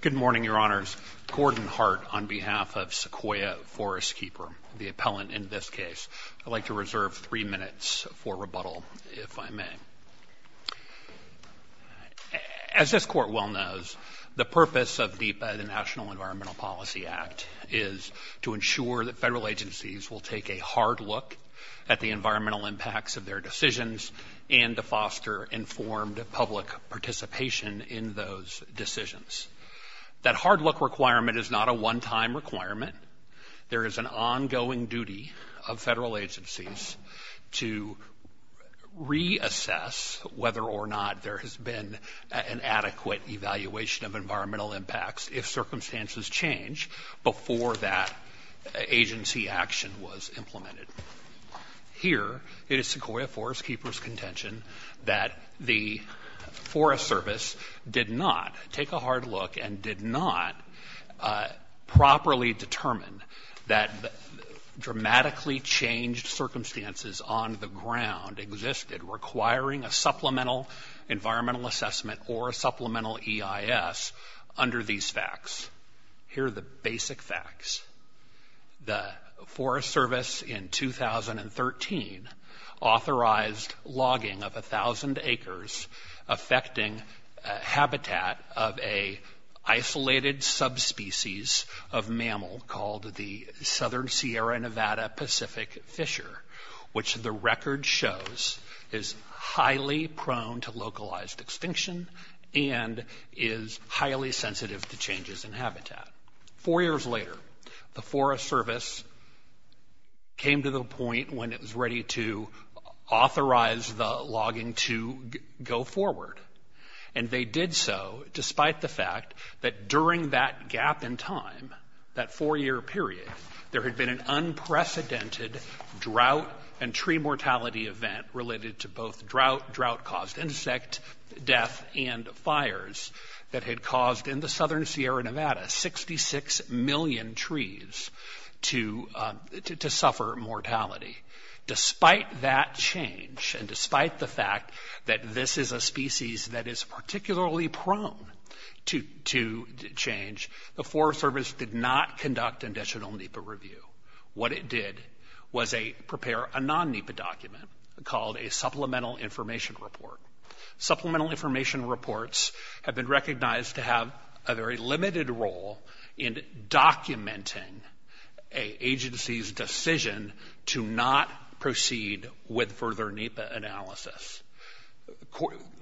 Good morning, Your Honors. Gordon Hart on behalf of Sequoia Forestkeeper, the appellant in this case. I'd like to reserve three minutes for rebuttal, if I may. As this Court well knows, the purpose of DEPA, the National Environmental Policy Act, is to ensure that federal agencies will take a hard look at the environmental impacts of their decisions and to foster informed public participation in those decisions. That hard look requirement is not a one-time requirement. There is an ongoing duty of federal agencies to reassess whether or not there has been an adequate evaluation of environmental impacts change before that agency action was implemented. Here, it is Sequoia Forestkeeper's contention that the Forest Service did not take a hard look and did not properly determine that dramatically changed circumstances on the ground existed requiring a supplemental environmental assessment or supplemental EIS under these facts. Here are the basic facts. The Forest Service in 2013 authorized logging of 1,000 acres affecting habitat of a isolated subspecies of mammal called the Southern Sierra Nevada Pacific Fisher, which the record shows is highly prone to localized extinction and is highly sensitive to changes in habitat. Four years later, the Forest Service came to the point when it was ready to authorize the logging to go forward. And they did so despite the fact that during that gap in time, that four-year period, there had been an unprecedented drought and tree mortality event related to both drought-caused insect death and fires that had caused in the Southern Sierra Nevada 66 million trees to suffer mortality. Despite that change and despite the fact that this is a species that is particularly prone to change, the Forest Service did not conduct additional NEPA review. What it did was prepare a non-NEPA document called a Supplemental Information Report. Supplemental Information Reports have been recognized to have a very limited role in documenting an agency's decision to not proceed with further NEPA analysis.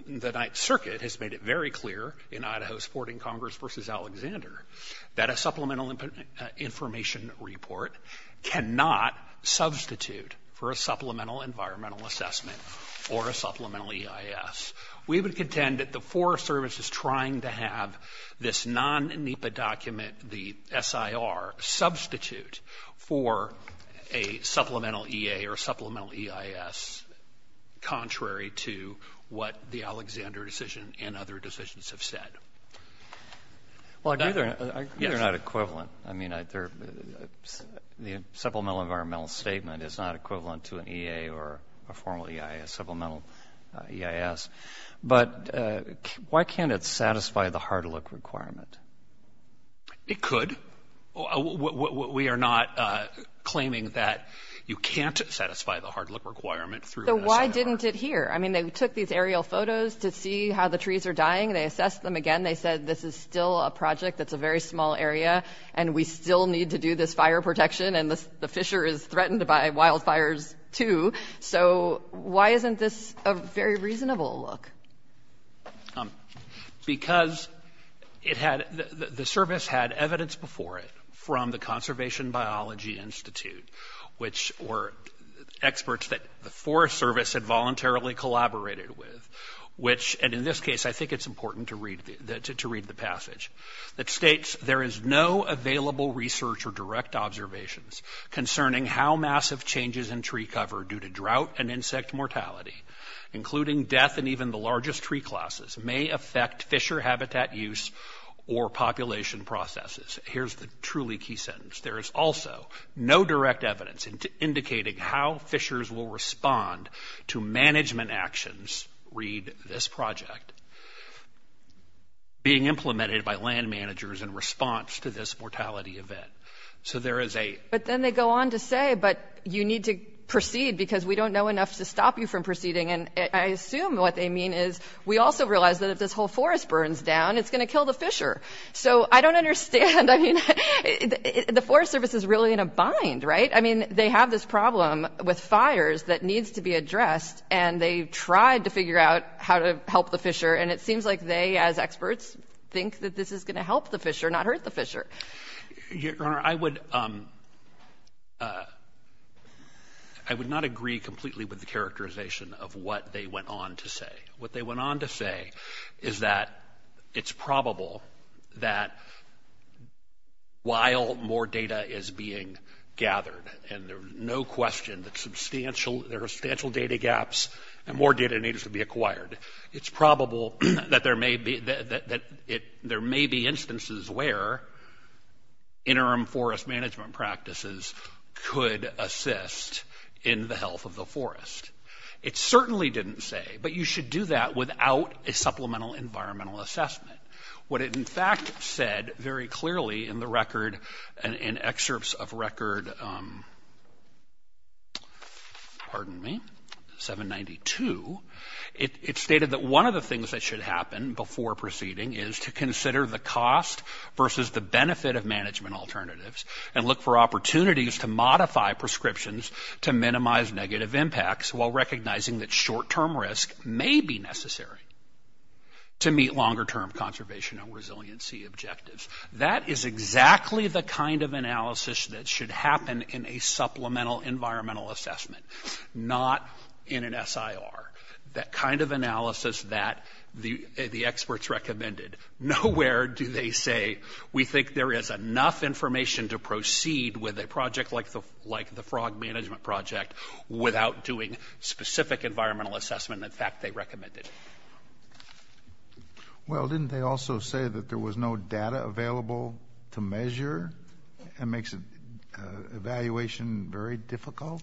The Ninth Circuit has made it very clear in Idaho's supporting Congress v. Alexander that a Supplemental Information Report cannot substitute for a Supplemental Environmental Assessment or a Supplemental EIS. We would contend that the Forest Service is trying to have this non-NEPA document, the SIR, substitute for a Supplemental EA or Supplemental EIS contrary to what the Alexander decision and other decisions have said. Well, I agree they're not equivalent. I mean, the Supplemental Environmental Statement is not equivalent to an EA or a formal EIS, Supplemental EIS. But why can't it satisfy the hard look requirement? It could. We are not claiming that you can't satisfy the hard look requirement through an SIR. So why didn't it here? I mean, they took these aerial photos to see how the they said this is still a project that's a very small area and we still need to do this fire protection and the fissure is threatened by wildfires, too. So why isn't this a very reasonable look? Because it had the service had evidence before it from the Conservation Biology Institute, which were experts that the Forest Service had voluntarily collaborated with, which and in this case, I think it's important to read the passage. It states, there is no available research or direct observations concerning how massive changes in tree cover due to drought and insect mortality, including death and even the largest tree classes, may affect fissure habitat use or population processes. Here's the truly key sentence. There is also no direct evidence indicating how fissures will respond to management actions, read this project, being implemented by land managers in response to this mortality event. So there is a... But then they go on to say, but you need to proceed because we don't know enough to stop you from proceeding. And I assume what they mean is we also realize that if this whole forest burns down, it's going to kill the fissure. So I don't understand. I mean, the Forest Service is really in a bind, right? I mean, they have this problem with fires that needs to be addressed and they tried to figure out how to help the fissure. And it seems like they, as experts, think that this is going to help the fissure, not hurt the fissure. Your Honor, I would, I would not agree completely with the characterization of what they went on to say. What they went on to say is that it's probable that while more data is being There are substantial data gaps and more data needs to be acquired. It's probable that there may be instances where interim forest management practices could assist in the health of the forest. It certainly didn't say, but you should do that without a supplemental environmental assessment. What it in fact said very clearly in the record and in excerpts of record, pardon me, 792, it stated that one of the things that should happen before proceeding is to consider the cost versus the benefit of management alternatives and look for opportunities to modify prescriptions to minimize negative impacts while recognizing that short-term risk may be necessary to meet longer-term conservation and resiliency objectives. That is exactly the kind of analysis that should happen in a supplemental environmental assessment, not in an SIR, that kind of analysis that the experts recommended. Nowhere do they say, we think there is enough information to proceed with a project like the, like the frog management project without doing specific environmental assessment, in fact, they recommended. Well, didn't they also say that there was no data available to measure? It makes evaluation very difficult.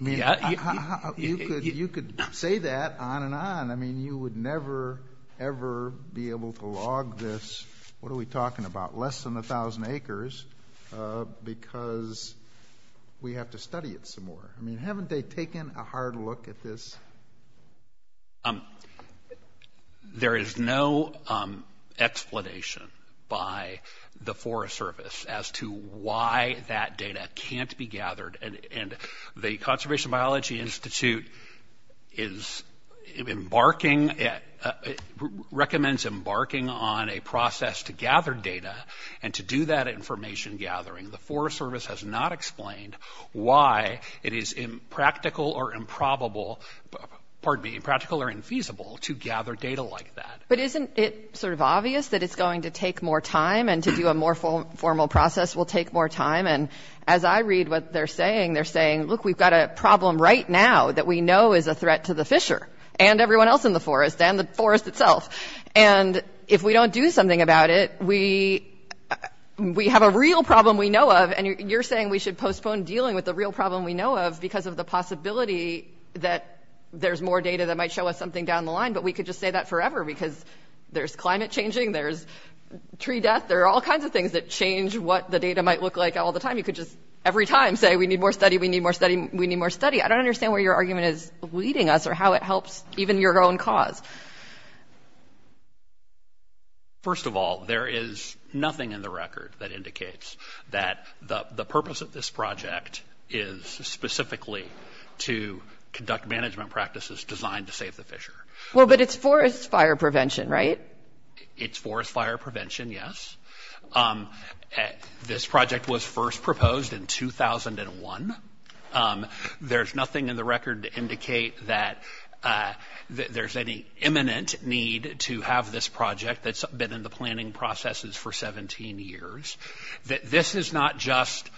You could say that on and on. I mean, you would never, ever be able to log this, what are we talking about, less than a thousand acres because we have to study it some more. I mean, haven't they taken a hard look at this? There is no explanation by the Forest Service as to why that data can't be gathered. And the Conservation Biology Institute is embarking, recommends embarking on a process to gather data and to do that information gathering. The Forest Service has not explained why it is impractical or improbable, pardon me, impractical or infeasible to gather data like that. But isn't it sort of obvious that it's going to take more time and to do a more formal process will take more time? And as I read what they're saying, they're saying, look, we've got a problem right now that we know is a threat to the fisher and everyone else in the forest and the forest itself. And if we don't do something about it, we have a real problem we know of. And you're saying we should postpone dealing with the real problem we know of because of the possibility that there's more data that might show us something down the line. But we could just say that forever because there's climate changing, there's tree death, there are all kinds of things that change what the data might look like all the time. You could just every time say we need more study, we need more study, we need more study. I don't understand where your argument is leading us or how it helps even your own cause. First of all, there is nothing in the record that indicates that the purpose of this project is specifically to conduct management practices designed to save the fisher. Well, but it's forest fire prevention, right? It's forest fire prevention, yes. This project was first proposed in 2001. There's nothing in the record to indicate that there's any imminent need to have this project that's been in the planning processes for 17 years. This is not just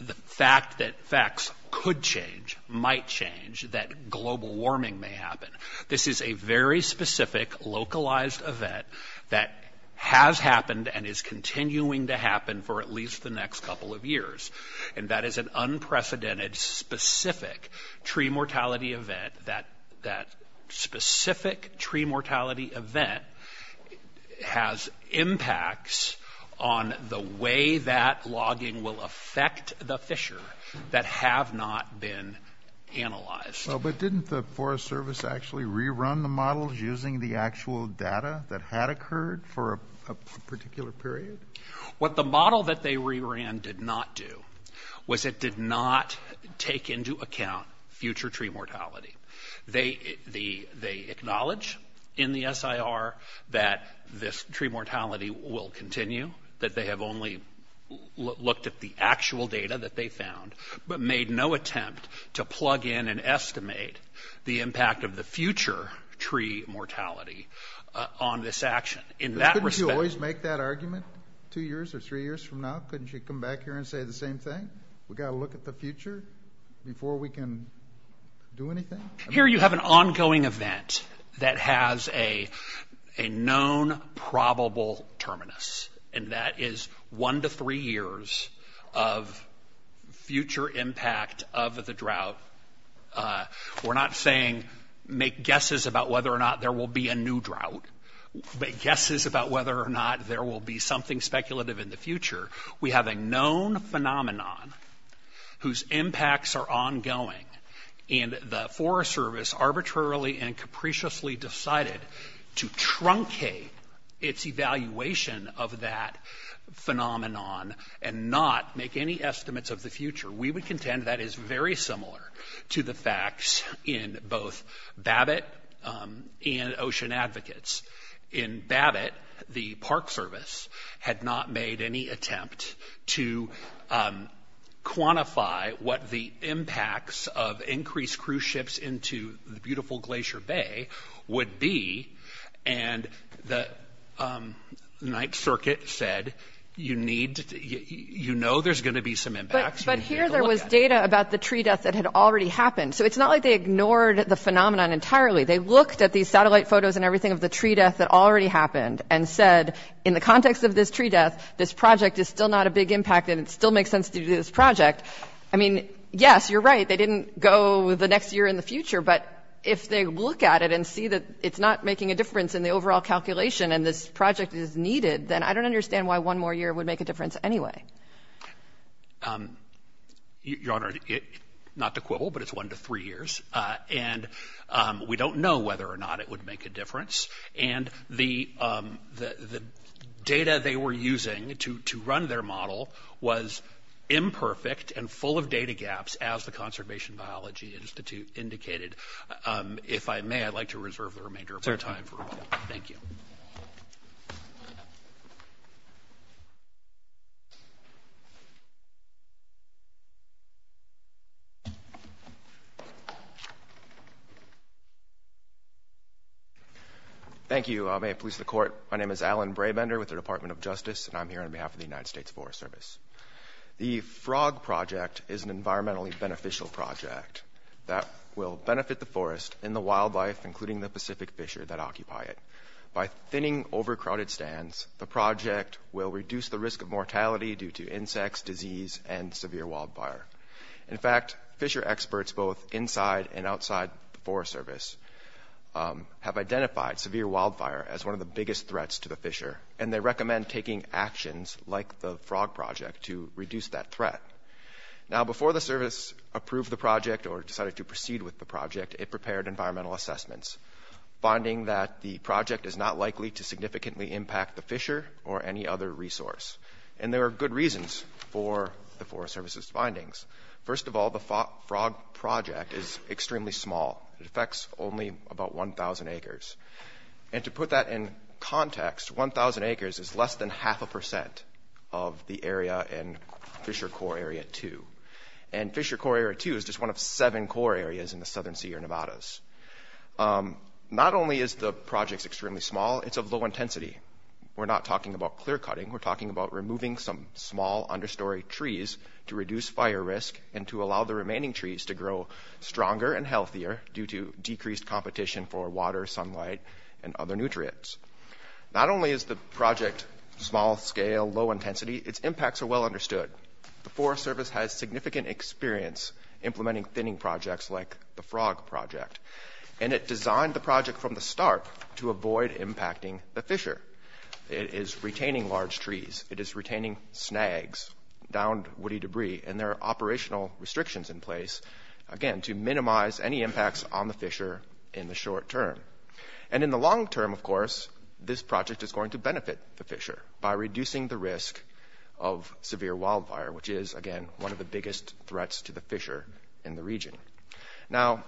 the fact that facts could change, might change, that global warming may happen. This is a very specific localized event that has happened and is continuing to happen for at least the next couple of years. Tree mortality event, that specific tree mortality event has impacts on the way that logging will affect the fisher that have not been analyzed. But didn't the Forest Service actually rerun the models using the actual data that had occurred for a particular period? What the model that they reran did not do was it did not take into account future tree mortality. They acknowledge in the SIR that this tree mortality will continue, that they have only looked at the actual data that they found, but made no attempt to plug in and estimate the impact of the future tree mortality on this action. In that respect... Two years or three years from now, couldn't you come back here and say the same thing? We've got to look at the future before we can do anything? Here you have an ongoing event that has a known probable terminus, and that is one to three years of future impact of the drought. We're not saying make guesses about whether or not there will be a new drought. Make guesses about whether or not there will be something speculative in the future. We have a known phenomenon whose impacts are ongoing, and the Forest Service arbitrarily and capriciously decided to truncate its evaluation of that phenomenon and not make any estimates of the future. We would contend that is very similar to the facts in both BABiT and Ocean Advocates. In BABiT, the Park Service had decided to have not made any attempt to quantify what the impacts of increased cruise ships into the beautiful Glacier Bay would be, and the Ninth Circuit said, you know there's going to be some impacts. But here there was data about the tree death that had already happened, so it's not like they ignored the phenomenon entirely. They looked at these satellite photos and everything of the tree death that already happened and said, in the context of this tree death, this project is still not a big impact and it still makes sense to do this project. I mean, yes, you're right, they didn't go the next year in the future, but if they look at it and see that it's not making a difference in the overall calculation and this project is needed, then I don't understand why one more year would make a difference anyway. Your Honor, not the quibble, but it's one to three years. And we don't know whether or not it would make a difference. And the data they were using to run their model was imperfect and full of data gaps, as the Conservation Biology Institute indicated. If I may, I'd like to reserve the remainder of my time for a moment. Thank you. Thank you. May it please the Court, my name is Alan Brabender with the Department of Justice and I'm here on behalf of the United States Forest Service. The Frog Project is an environmentally beneficial project that will benefit the forest and the wildlife, including the Pacific Fisher that occupy it. By thinning overcrowded stands, the project will reduce the risk of mortality due to insects, disease, and severe wildfire. In fact, fisher experts both inside and outside the Forest Service have identified severe wildfire as one of the biggest threats to the fisher and they recommend taking actions like the Frog Project to reduce that threat. Now before the Service approved the project or decided to proceed with the project, it prepared environmental assessments, finding that the project is not likely to significantly impact the fisher or any other resource. And there are good reasons for the Forest Service's recommendation. The project is extremely small. It affects only about 1,000 acres. And to put that in context, 1,000 acres is less than half a percent of the area in Fisher Core Area 2. And Fisher Core Area 2 is just one of seven core areas in the Southern Sierra Nevadas. Not only is the project extremely small, it's of low intensity. We're not talking about clear-cutting, we're talking about removing some small understory trees to reduce fire risk and to allow the remaining trees to grow stronger and healthier due to decreased competition for water, sunlight, and other nutrients. Not only is the project small-scale, low-intensity, its impacts are well understood. The Forest Service has significant experience implementing thinning projects like the Frog Project. And it designed the project from the start to avoid impacting the fisher. It is retaining large trees. It is retaining snags, downed woody debris. And there are operational restrictions in place, again, to minimize any impacts on the fisher in the short term. And in the long term, of course, this project is going to benefit the fisher by reducing the risk of severe wildfire, which is, again, one of the biggest threats to the fisher in the region. Now,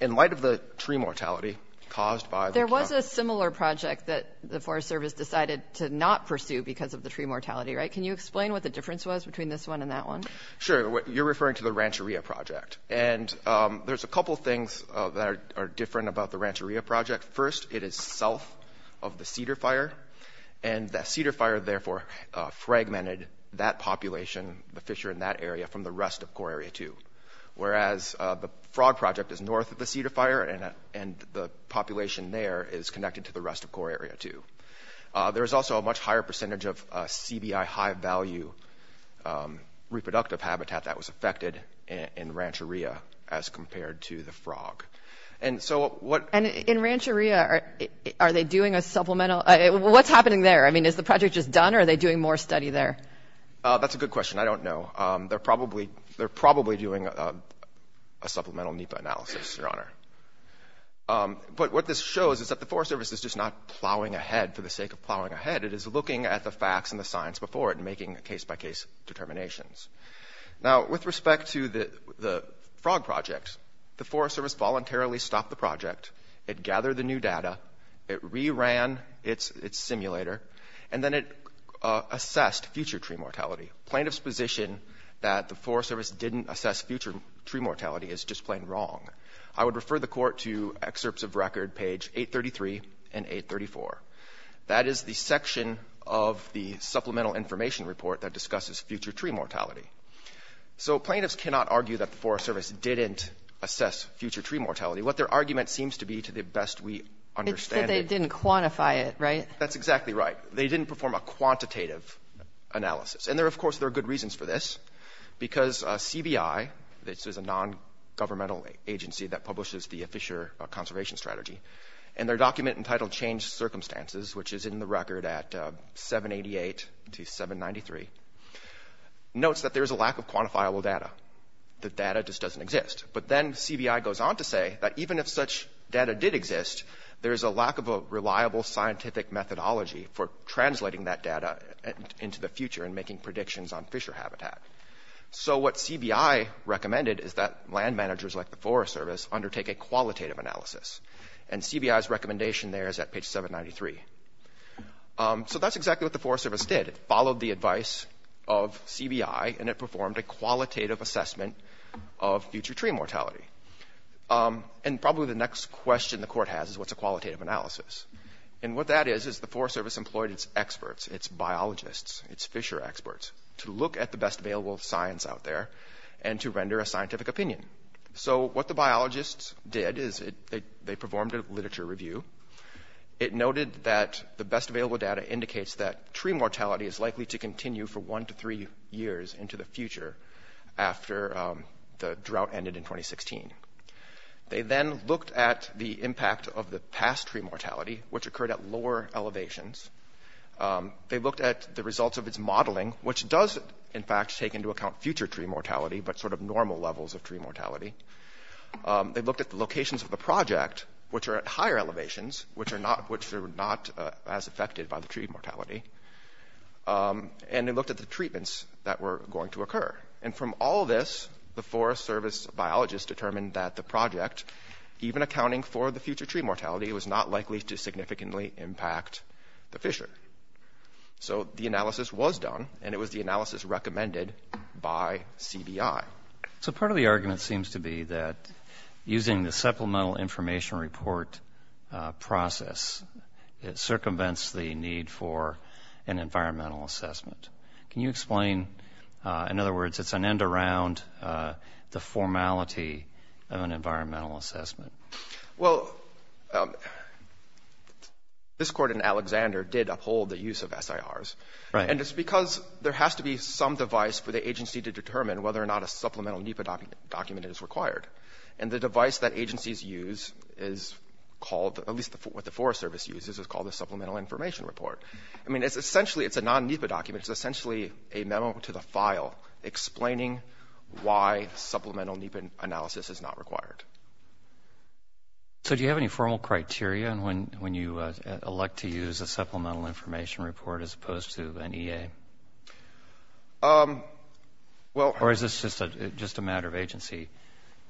in light of the tree mortality caused by the- There was a similar project that the Forest Service decided to not pursue because of the tree mortality, right? Can you explain what the difference was between this one and that one? Sure. You're referring to the Rancheria Project. And there's a couple of things that are different about the Rancheria Project. First, it is south of the Cedar Fire. And the Cedar Fire therefore fragmented that population, the fisher in that area, from the rest of Core Area 2. Whereas the Frog Project is north of the Cedar Fire, and the population there is connected to the rest of Core Area 2. There is also a much higher percentage of CBI high-value reproductive habitat that was affected in Rancheria as compared to the Frog. And so what- And in Rancheria, are they doing a supplemental- What's happening there? I mean, is the project just done, or are they doing more study there? That's a good question. I don't know. They're probably doing a supplemental NEPA analysis, Your Honor. But what this shows is that the Forest Service is just not plowing ahead for the sake of plowing ahead. It is looking at the facts and the science before it and making case-by-case determinations. Now, with respect to the Frog Project, the Forest Service voluntarily stopped the project. It gathered the new data. It reran its simulator. And then it assessed future tree mortality. Plaintiff's position that the Forest Service didn't assess future tree mortality is just plain wrong. I would refer the Court to excerpts of record page 833 and 834. That is the section of the Supplemental Information Report that discusses future tree mortality. So plaintiffs cannot argue that the Forest Service didn't assess future tree mortality. What their argument seems to be, to the best we understand it- It's that they didn't quantify it, right? That's exactly right. They didn't perform a quantitative analysis. And there, of course, there are good reasons for this. Because CBI, this is a non-governmental agency that publishes the Fisher Conservation Strategy, and their document entitled Change Circumstances, which is in the record at 788 to 793, notes that there is a lack of quantifiable data. The data just doesn't exist. But then CBI goes on to say that even if such data did exist, there is a lack of a reliable scientific methodology for translating that data into the future and making predictions on fisher habitat. So what CBI recommended is that land managers like the Forest Service undertake a qualitative analysis. And CBI's recommendation there is at page 793. So that's exactly what the Forest Service did. It followed the advice of CBI and it performed a qualitative assessment of future tree mortality. And probably the next question the Court has is what's a qualitative analysis? And what that is is the Forest Service employed its experts, its biologists, its fisher experts, to look at the best available science out there and to render a scientific opinion. So what the biologists did is they performed a literature review. It noted that the best available data indicates that tree mortality is likely to continue for one to three years into the future after the drought ended in 2016. They then looked at the impact of the past tree mortality, which occurred at lower elevations. They looked at the results of its modeling, which does in fact take into account future tree mortality, but sort of normal levels of tree mortality. They looked at the locations of the project, which are at higher elevations, which are not as affected by the tree mortality. And they looked at the treatments that were going to occur. And from all this, the Forest Service biologists determined that the project, even accounting for the future tree mortality, was not likely to significantly impact the fisher. So the analysis was done, and it was the analysis recommended by CBI. So part of the argument seems to be that using the Supplemental Information Report process circumvents the need for an environmental assessment. Can you explain, in other words, it's an end around the formality of an environmental assessment? Well, this Court in Alexander did uphold the use of SIRs. Right. And it's because there has to be some device for the agency to determine whether or not a supplemental NEPA document is required. And the device that agencies use is called at least what the Forest Service uses is called the Supplemental Information Report. I mean, it's essentially, it's a non-NEPA document. It's essentially a memo to the file explaining why supplemental NEPA analysis is not required. So do you have any formal criteria when you elect to use a Supplemental Information Report as opposed to an EA? Or is this just a matter of agency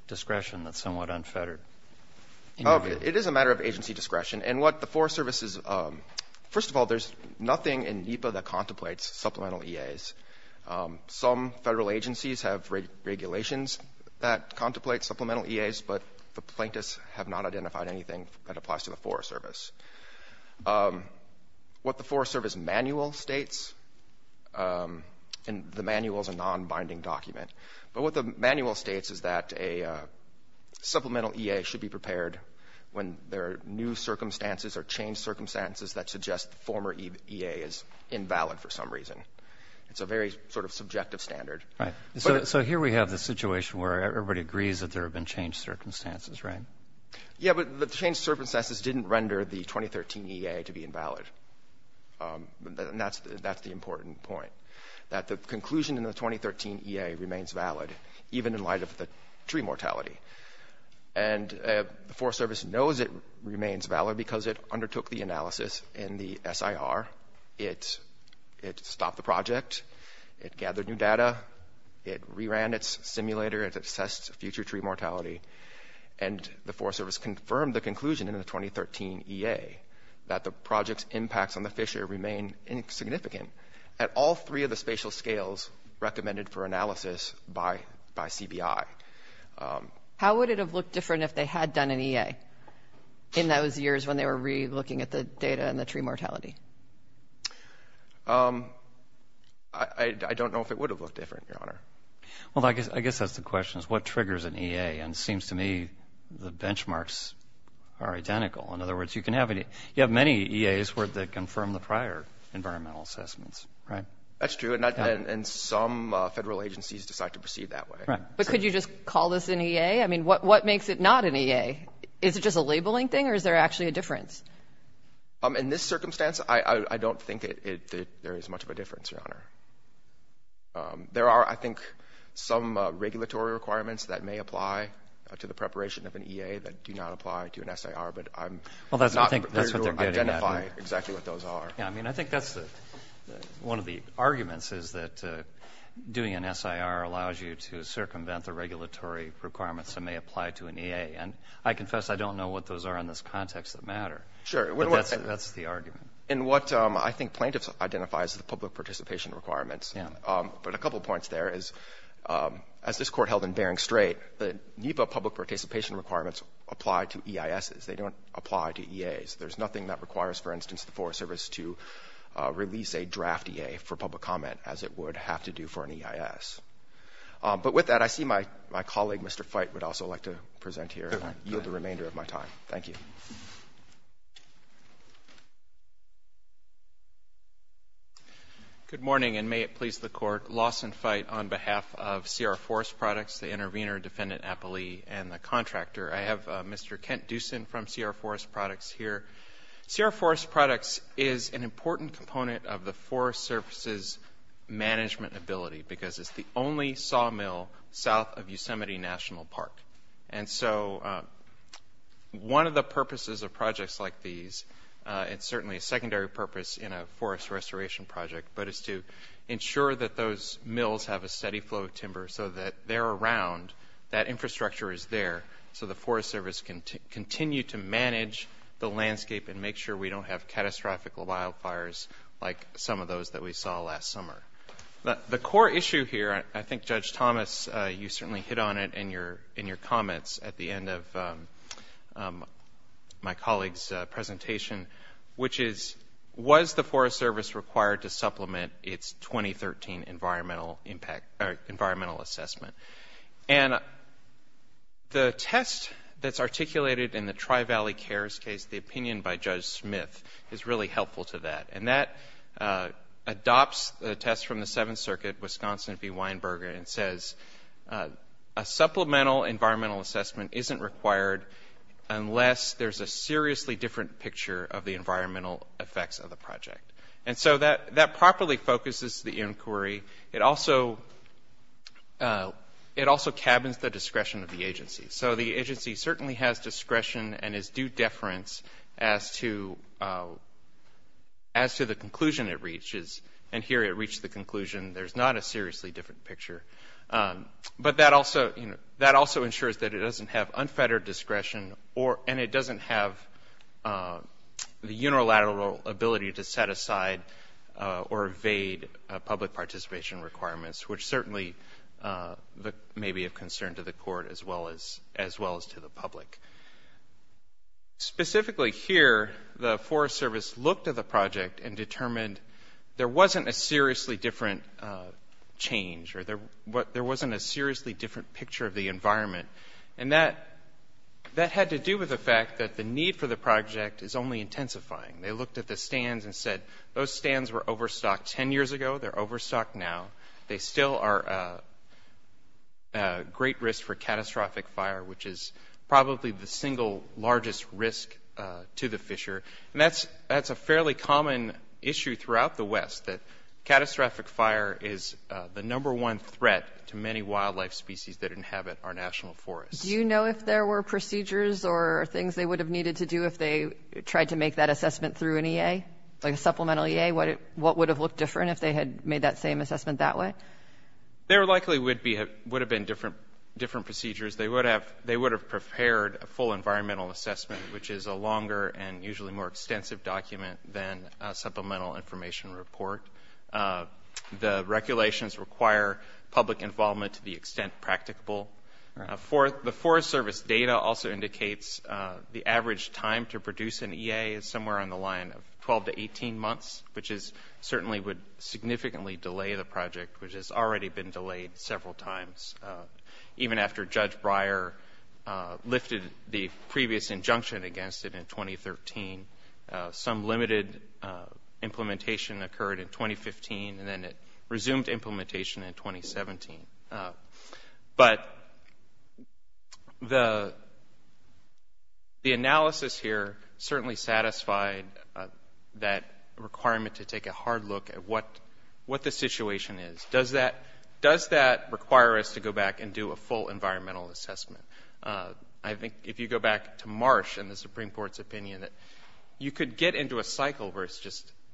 discretion that's somewhat unfettered? It is a matter of agency discretion. And what the Forest Service is, first of all, there's nothing in NEPA that contemplates supplemental EAs. Some federal agencies have regulations that contemplate supplemental EAs, but the plaintiffs have not identified anything that applies to the Forest Service. What the Forest Service manual states, and the manual is a non-binding document, but what the manual states is that a supplemental EA should be prepared when there are new circumstances or changed circumstances that suggest the former EA is invalid for some reason. It's a very sort of subjective standard. Right. So here we have the situation where everybody agrees that there have been changed circumstances, right? Yeah, but the changed circumstances didn't render the 2013 EA to be invalid. And that's the important point, that the conclusion in the 2013 EA remains valid even in light of undertook the analysis in the SIR. It stopped the project. It gathered new data. It reran its simulator. It assessed future tree mortality. And the Forest Service confirmed the conclusion in the 2013 EA that the project's impacts on the fissure remain insignificant at all three of the spatial scales recommended for analysis by CBI. How would it have looked different if they had done an EA in those years when they were re-looking at the data and the tree mortality? I don't know if it would have looked different, Your Honor. Well, I guess that's the question is what triggers an EA? And it seems to me the benchmarks are identical. In other words, you can have any, you have many EAs where they confirm the prior environmental assessments, right? That's true. And some federal agencies decide to proceed that way. But could you just call this an EA? I mean, what makes it not an EA? Is it just a labeling thing or is there actually a difference? In this circumstance, I don't think there is much of a difference, Your Honor. There are, I think, some regulatory requirements that may apply to the preparation of an EA that do not apply to an SIR. But I'm not prepared to identify exactly what those are. I mean, I think that's one of the arguments is that doing an SIR allows you to circumvent the regulatory requirements that may apply to an EA. And I confess I don't know what those are in this context that matter. Sure. But that's the argument. And what I think plaintiffs identify is the public participation requirements. Yeah. But a couple points there is, as this Court held in Bering Strait, the NEPA public participation requirements apply to EISs. They don't apply to EAs. There's nothing that requires, for instance, the Forest Service to release a draft EA for public comment as it would have to do for an EIS. But with that, I see my colleague, Mr. Fite, would also like to present here and yield the remainder of my time. Thank you. Good morning, and may it please the Court. Lawson Fite on behalf of Sierra Forest Products, the intervener, defendant, appellee, and the contractor. I have Mr. Kent Dusin from Sierra Forest Products here. Sierra Forest Products is an important component of the Forest Service's management ability because it's the only sawmill south of Yosemite National Park. And so one of the purposes of projects like these, it's certainly a secondary purpose in a forest restoration project, but it's to ensure that those mills have a steady flow of timber so that they're around, that infrastructure is there, so the Forest Service can continue to manage the landscape and make sure we don't have catastrophic wildfires like some of those that we saw last summer. The core issue here, I think Judge Thomas, you certainly hit on it in your comments at the end of my colleague's presentation, which is, was the Forest Service required to supplement its 2013 environmental impact or environmental assessment. And the test that's articulated in the Tri-Valley Cares case, the opinion by Judge Smith, is really helpful to that. And that adopts the test from the Seventh Circuit, Wisconsin v. Weinberger, and says a supplemental environmental assessment isn't required unless there's a So that properly focuses the inquiry. It also cabins the discretion of the agency. So the agency certainly has discretion and is due deference as to the conclusion it reaches. And here it reached the conclusion there's not a seriously different picture. But that also ensures that it doesn't have unfettered discretion and it doesn't have the unilateral ability to set aside or evade public participation requirements, which certainly may be of concern to the court as well as to the public. Specifically here, the Forest Service looked at the project and determined there wasn't a seriously different change or there wasn't a seriously different picture of the environment. And that had to do with the fact that the need for the project is only intensifying. They looked at the stands and said those stands were overstocked 10 years ago. They're overstocked now. They still are a great risk for catastrophic fire, which is probably the single largest risk to the fisher. And that's a fairly common issue throughout the West, that catastrophic fire is the number one threat to many wildlife species that inhabit our national forests. Do you know if there were procedures or things they would have needed to do if they tried to make that assessment through an EA, like a supplemental EA? What would have looked different if they had made that same assessment that way? There likely would have been different procedures. They would have prepared a full environmental assessment, which is a longer and usually more extensive document than a supplemental information report. The regulations require public involvement to the extent practicable. The Forest Service data also indicates the average time to produce an EA is somewhere on the line of 12 to 18 months, which certainly would significantly delay the project, which has already been delayed several times. Even after Judge Breyer lifted the previous injunction against it in 2013, some limited implementation occurred in 2015, and then it resumed implementation in 2017. But the analysis here certainly satisfied that requirement to take a hard look at what the situation is. Does that require us to go back and do a full environmental assessment? I think if you go back to Marsh and the Supreme Court's opinion that you could get into a cycle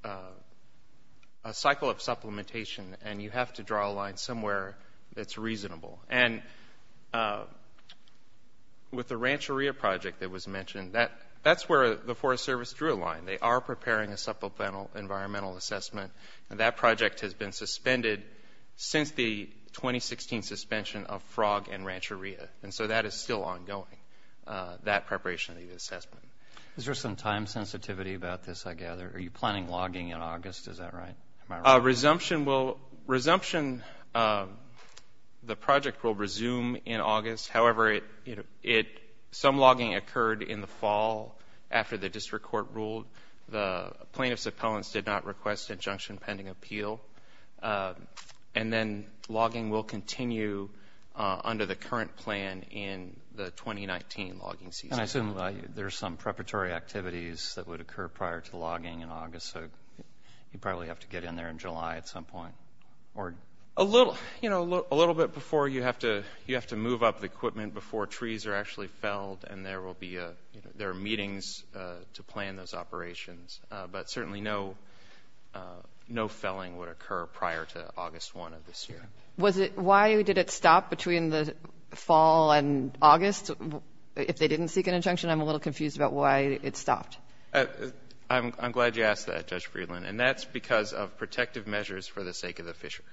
of supplementation, and you have to draw a line somewhere that's reasonable. With the Rancheria project that was mentioned, that's where the Forest Service drew a line. They are preparing a supplemental environmental assessment. That project has been suspended since the 2016 suspension of Frog and Rancheria, and so that is still ongoing, that preparation of the assessment. Is there some time sensitivity about this, I gather? Are you planning logging in August? Is that right? Resumption, the project will resume in August. However, some logging occurred in the fall after the district court ruled. The plaintiffs' appellants did not request injunction pending appeal. And then logging will continue under the current plan in the 2019 logging season. I assume there's some preparatory activities that would occur prior to logging in August, so you'd probably have to get in there in July at some point. A little bit before. You have to move up the equipment before trees are actually felled, and there are meetings to plan those operations. But certainly no felling would occur prior to August 1 of this year. Was it why did it stop between the fall and August? If they didn't seek an injunction, I'm a little confused about why it stopped. I'm glad you asked that, Judge Friedland. And that's because of protective measures for the sake of the Fisher.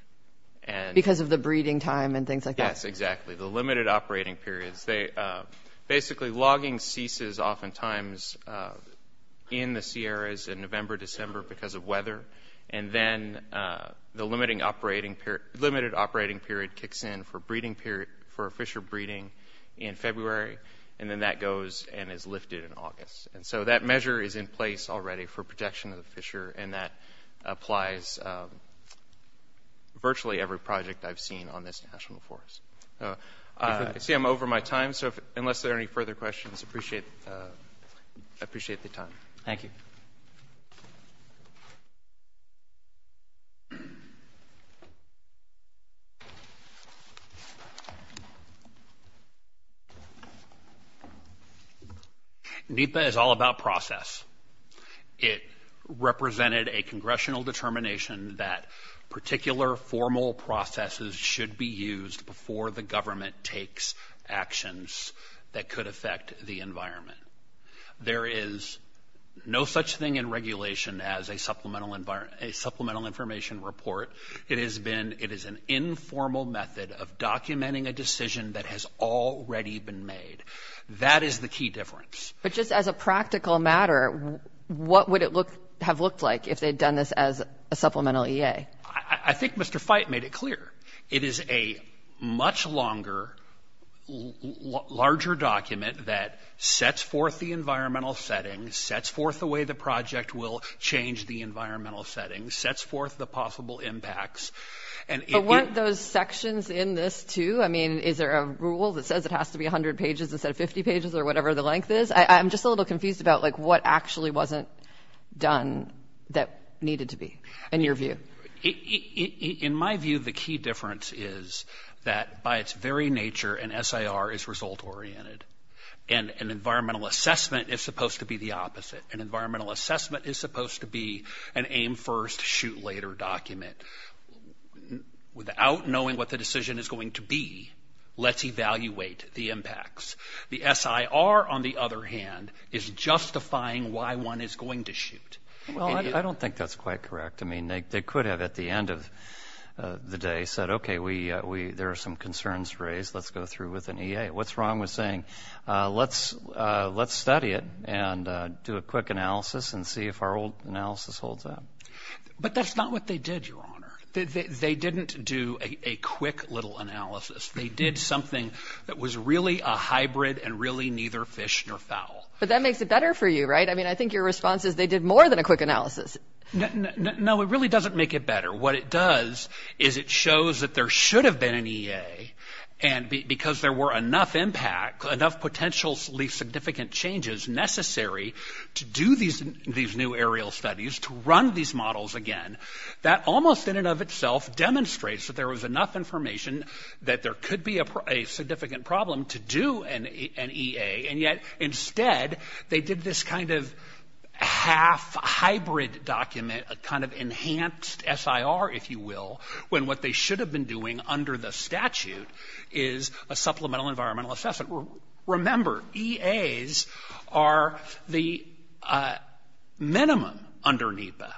Because of the breeding time and things like that? Yes, exactly. The limited operating periods. Basically, logging ceases oftentimes in the limited operating period, kicks in for a Fisher breeding in February, and then that goes and is lifted in August. And so that measure is in place already for protection of the Fisher, and that applies virtually every project I've seen on this National Forest. I see I'm over my time, so unless there are any further questions, I appreciate the time. Thank you. NEPA is all about process. It represented a congressional determination that particular formal processes should be used before the government takes actions that could affect the environment. There is no such thing in regulation as a supplemental information report. It is an informal method of documenting a decision that has already been made. That is the key difference. But just as a practical matter, what would it have looked like if they had done this as a supplemental EA? I think Mr. Fite made it clear. It is a much longer, larger document that sets forth the environmental settings, sets forth the way the project will change the environmental settings, sets forth the possible impacts. But weren't those sections in this too? I mean, is there a rule that says it has to be 100 pages instead of 50 pages or whatever the length is? I'm just a little confused about what actually wasn't done that needed to be, in your view. In my view, the key difference is that by its very nature, an SIR is result-oriented, and an environmental assessment is supposed to be the opposite. An environmental assessment is supposed to be an aim-first, shoot-later document. Without knowing what the decision is going to be, let's evaluate the impacts. The SIR, on the other hand, is justifying why one is going to shoot. I don't think that's quite correct. I mean, they could have, at the end of the day, said, okay, there are some concerns raised. Let's go through with an EA. What's wrong with saying, let's study it and do a quick analysis and see if our old analysis holds up. But that's not what they did, Your Honor. They didn't do a quick little analysis. They did something that was really a hybrid and really neither fish nor fowl. But that makes it better for you, right? I mean, I think your response is they did more than a quick analysis. No, it really doesn't make it better. What it does is it shows that there should have been an EA. And because there were enough impact, enough potentially significant changes necessary to do these new aerial studies, to run these models again, that almost in and of itself demonstrates that there was enough information that there could be a significant problem to do an EA. And yet, instead, they did this kind of half hybrid document, a kind of enhanced SIR, if you will, when what they should have been doing under the statute is a supplemental environmental assessment. Remember, EAs are the minimum under NEPA.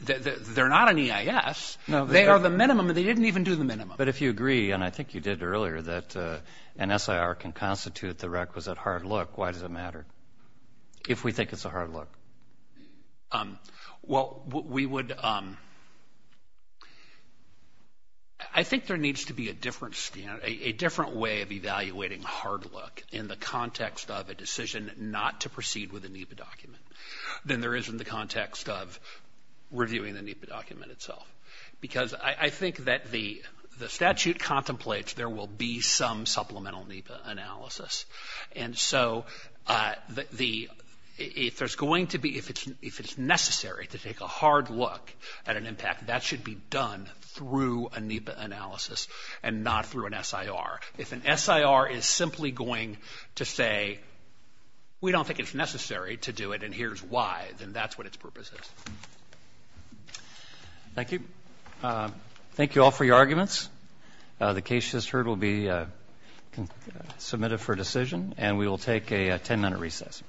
They're not an EIS. They are the minimum, and they didn't even do the minimum. But if you agree, and I think you did earlier, that an SIR can constitute the requisite hard look, why does it matter if we think it's a hard look? Well, we would, I think there needs to be a different standard, a different way of evaluating hard look in the context of a decision not to proceed with a NEPA document than there is in the context of reviewing the NEPA document itself. Because I think that the statute contemplates there will be some supplemental NEPA analysis. And so the, if there's going to be, if it's necessary to take a hard look at an impact, that should be done through a NEPA analysis and not through an SIR. If an SIR is simply going to say, we don't think it's necessary to do it and here's why, then that's what its purpose is. Thank you. Thank you all for your arguments. The case just heard will be submitted for decision and we will take a 10 minute recess.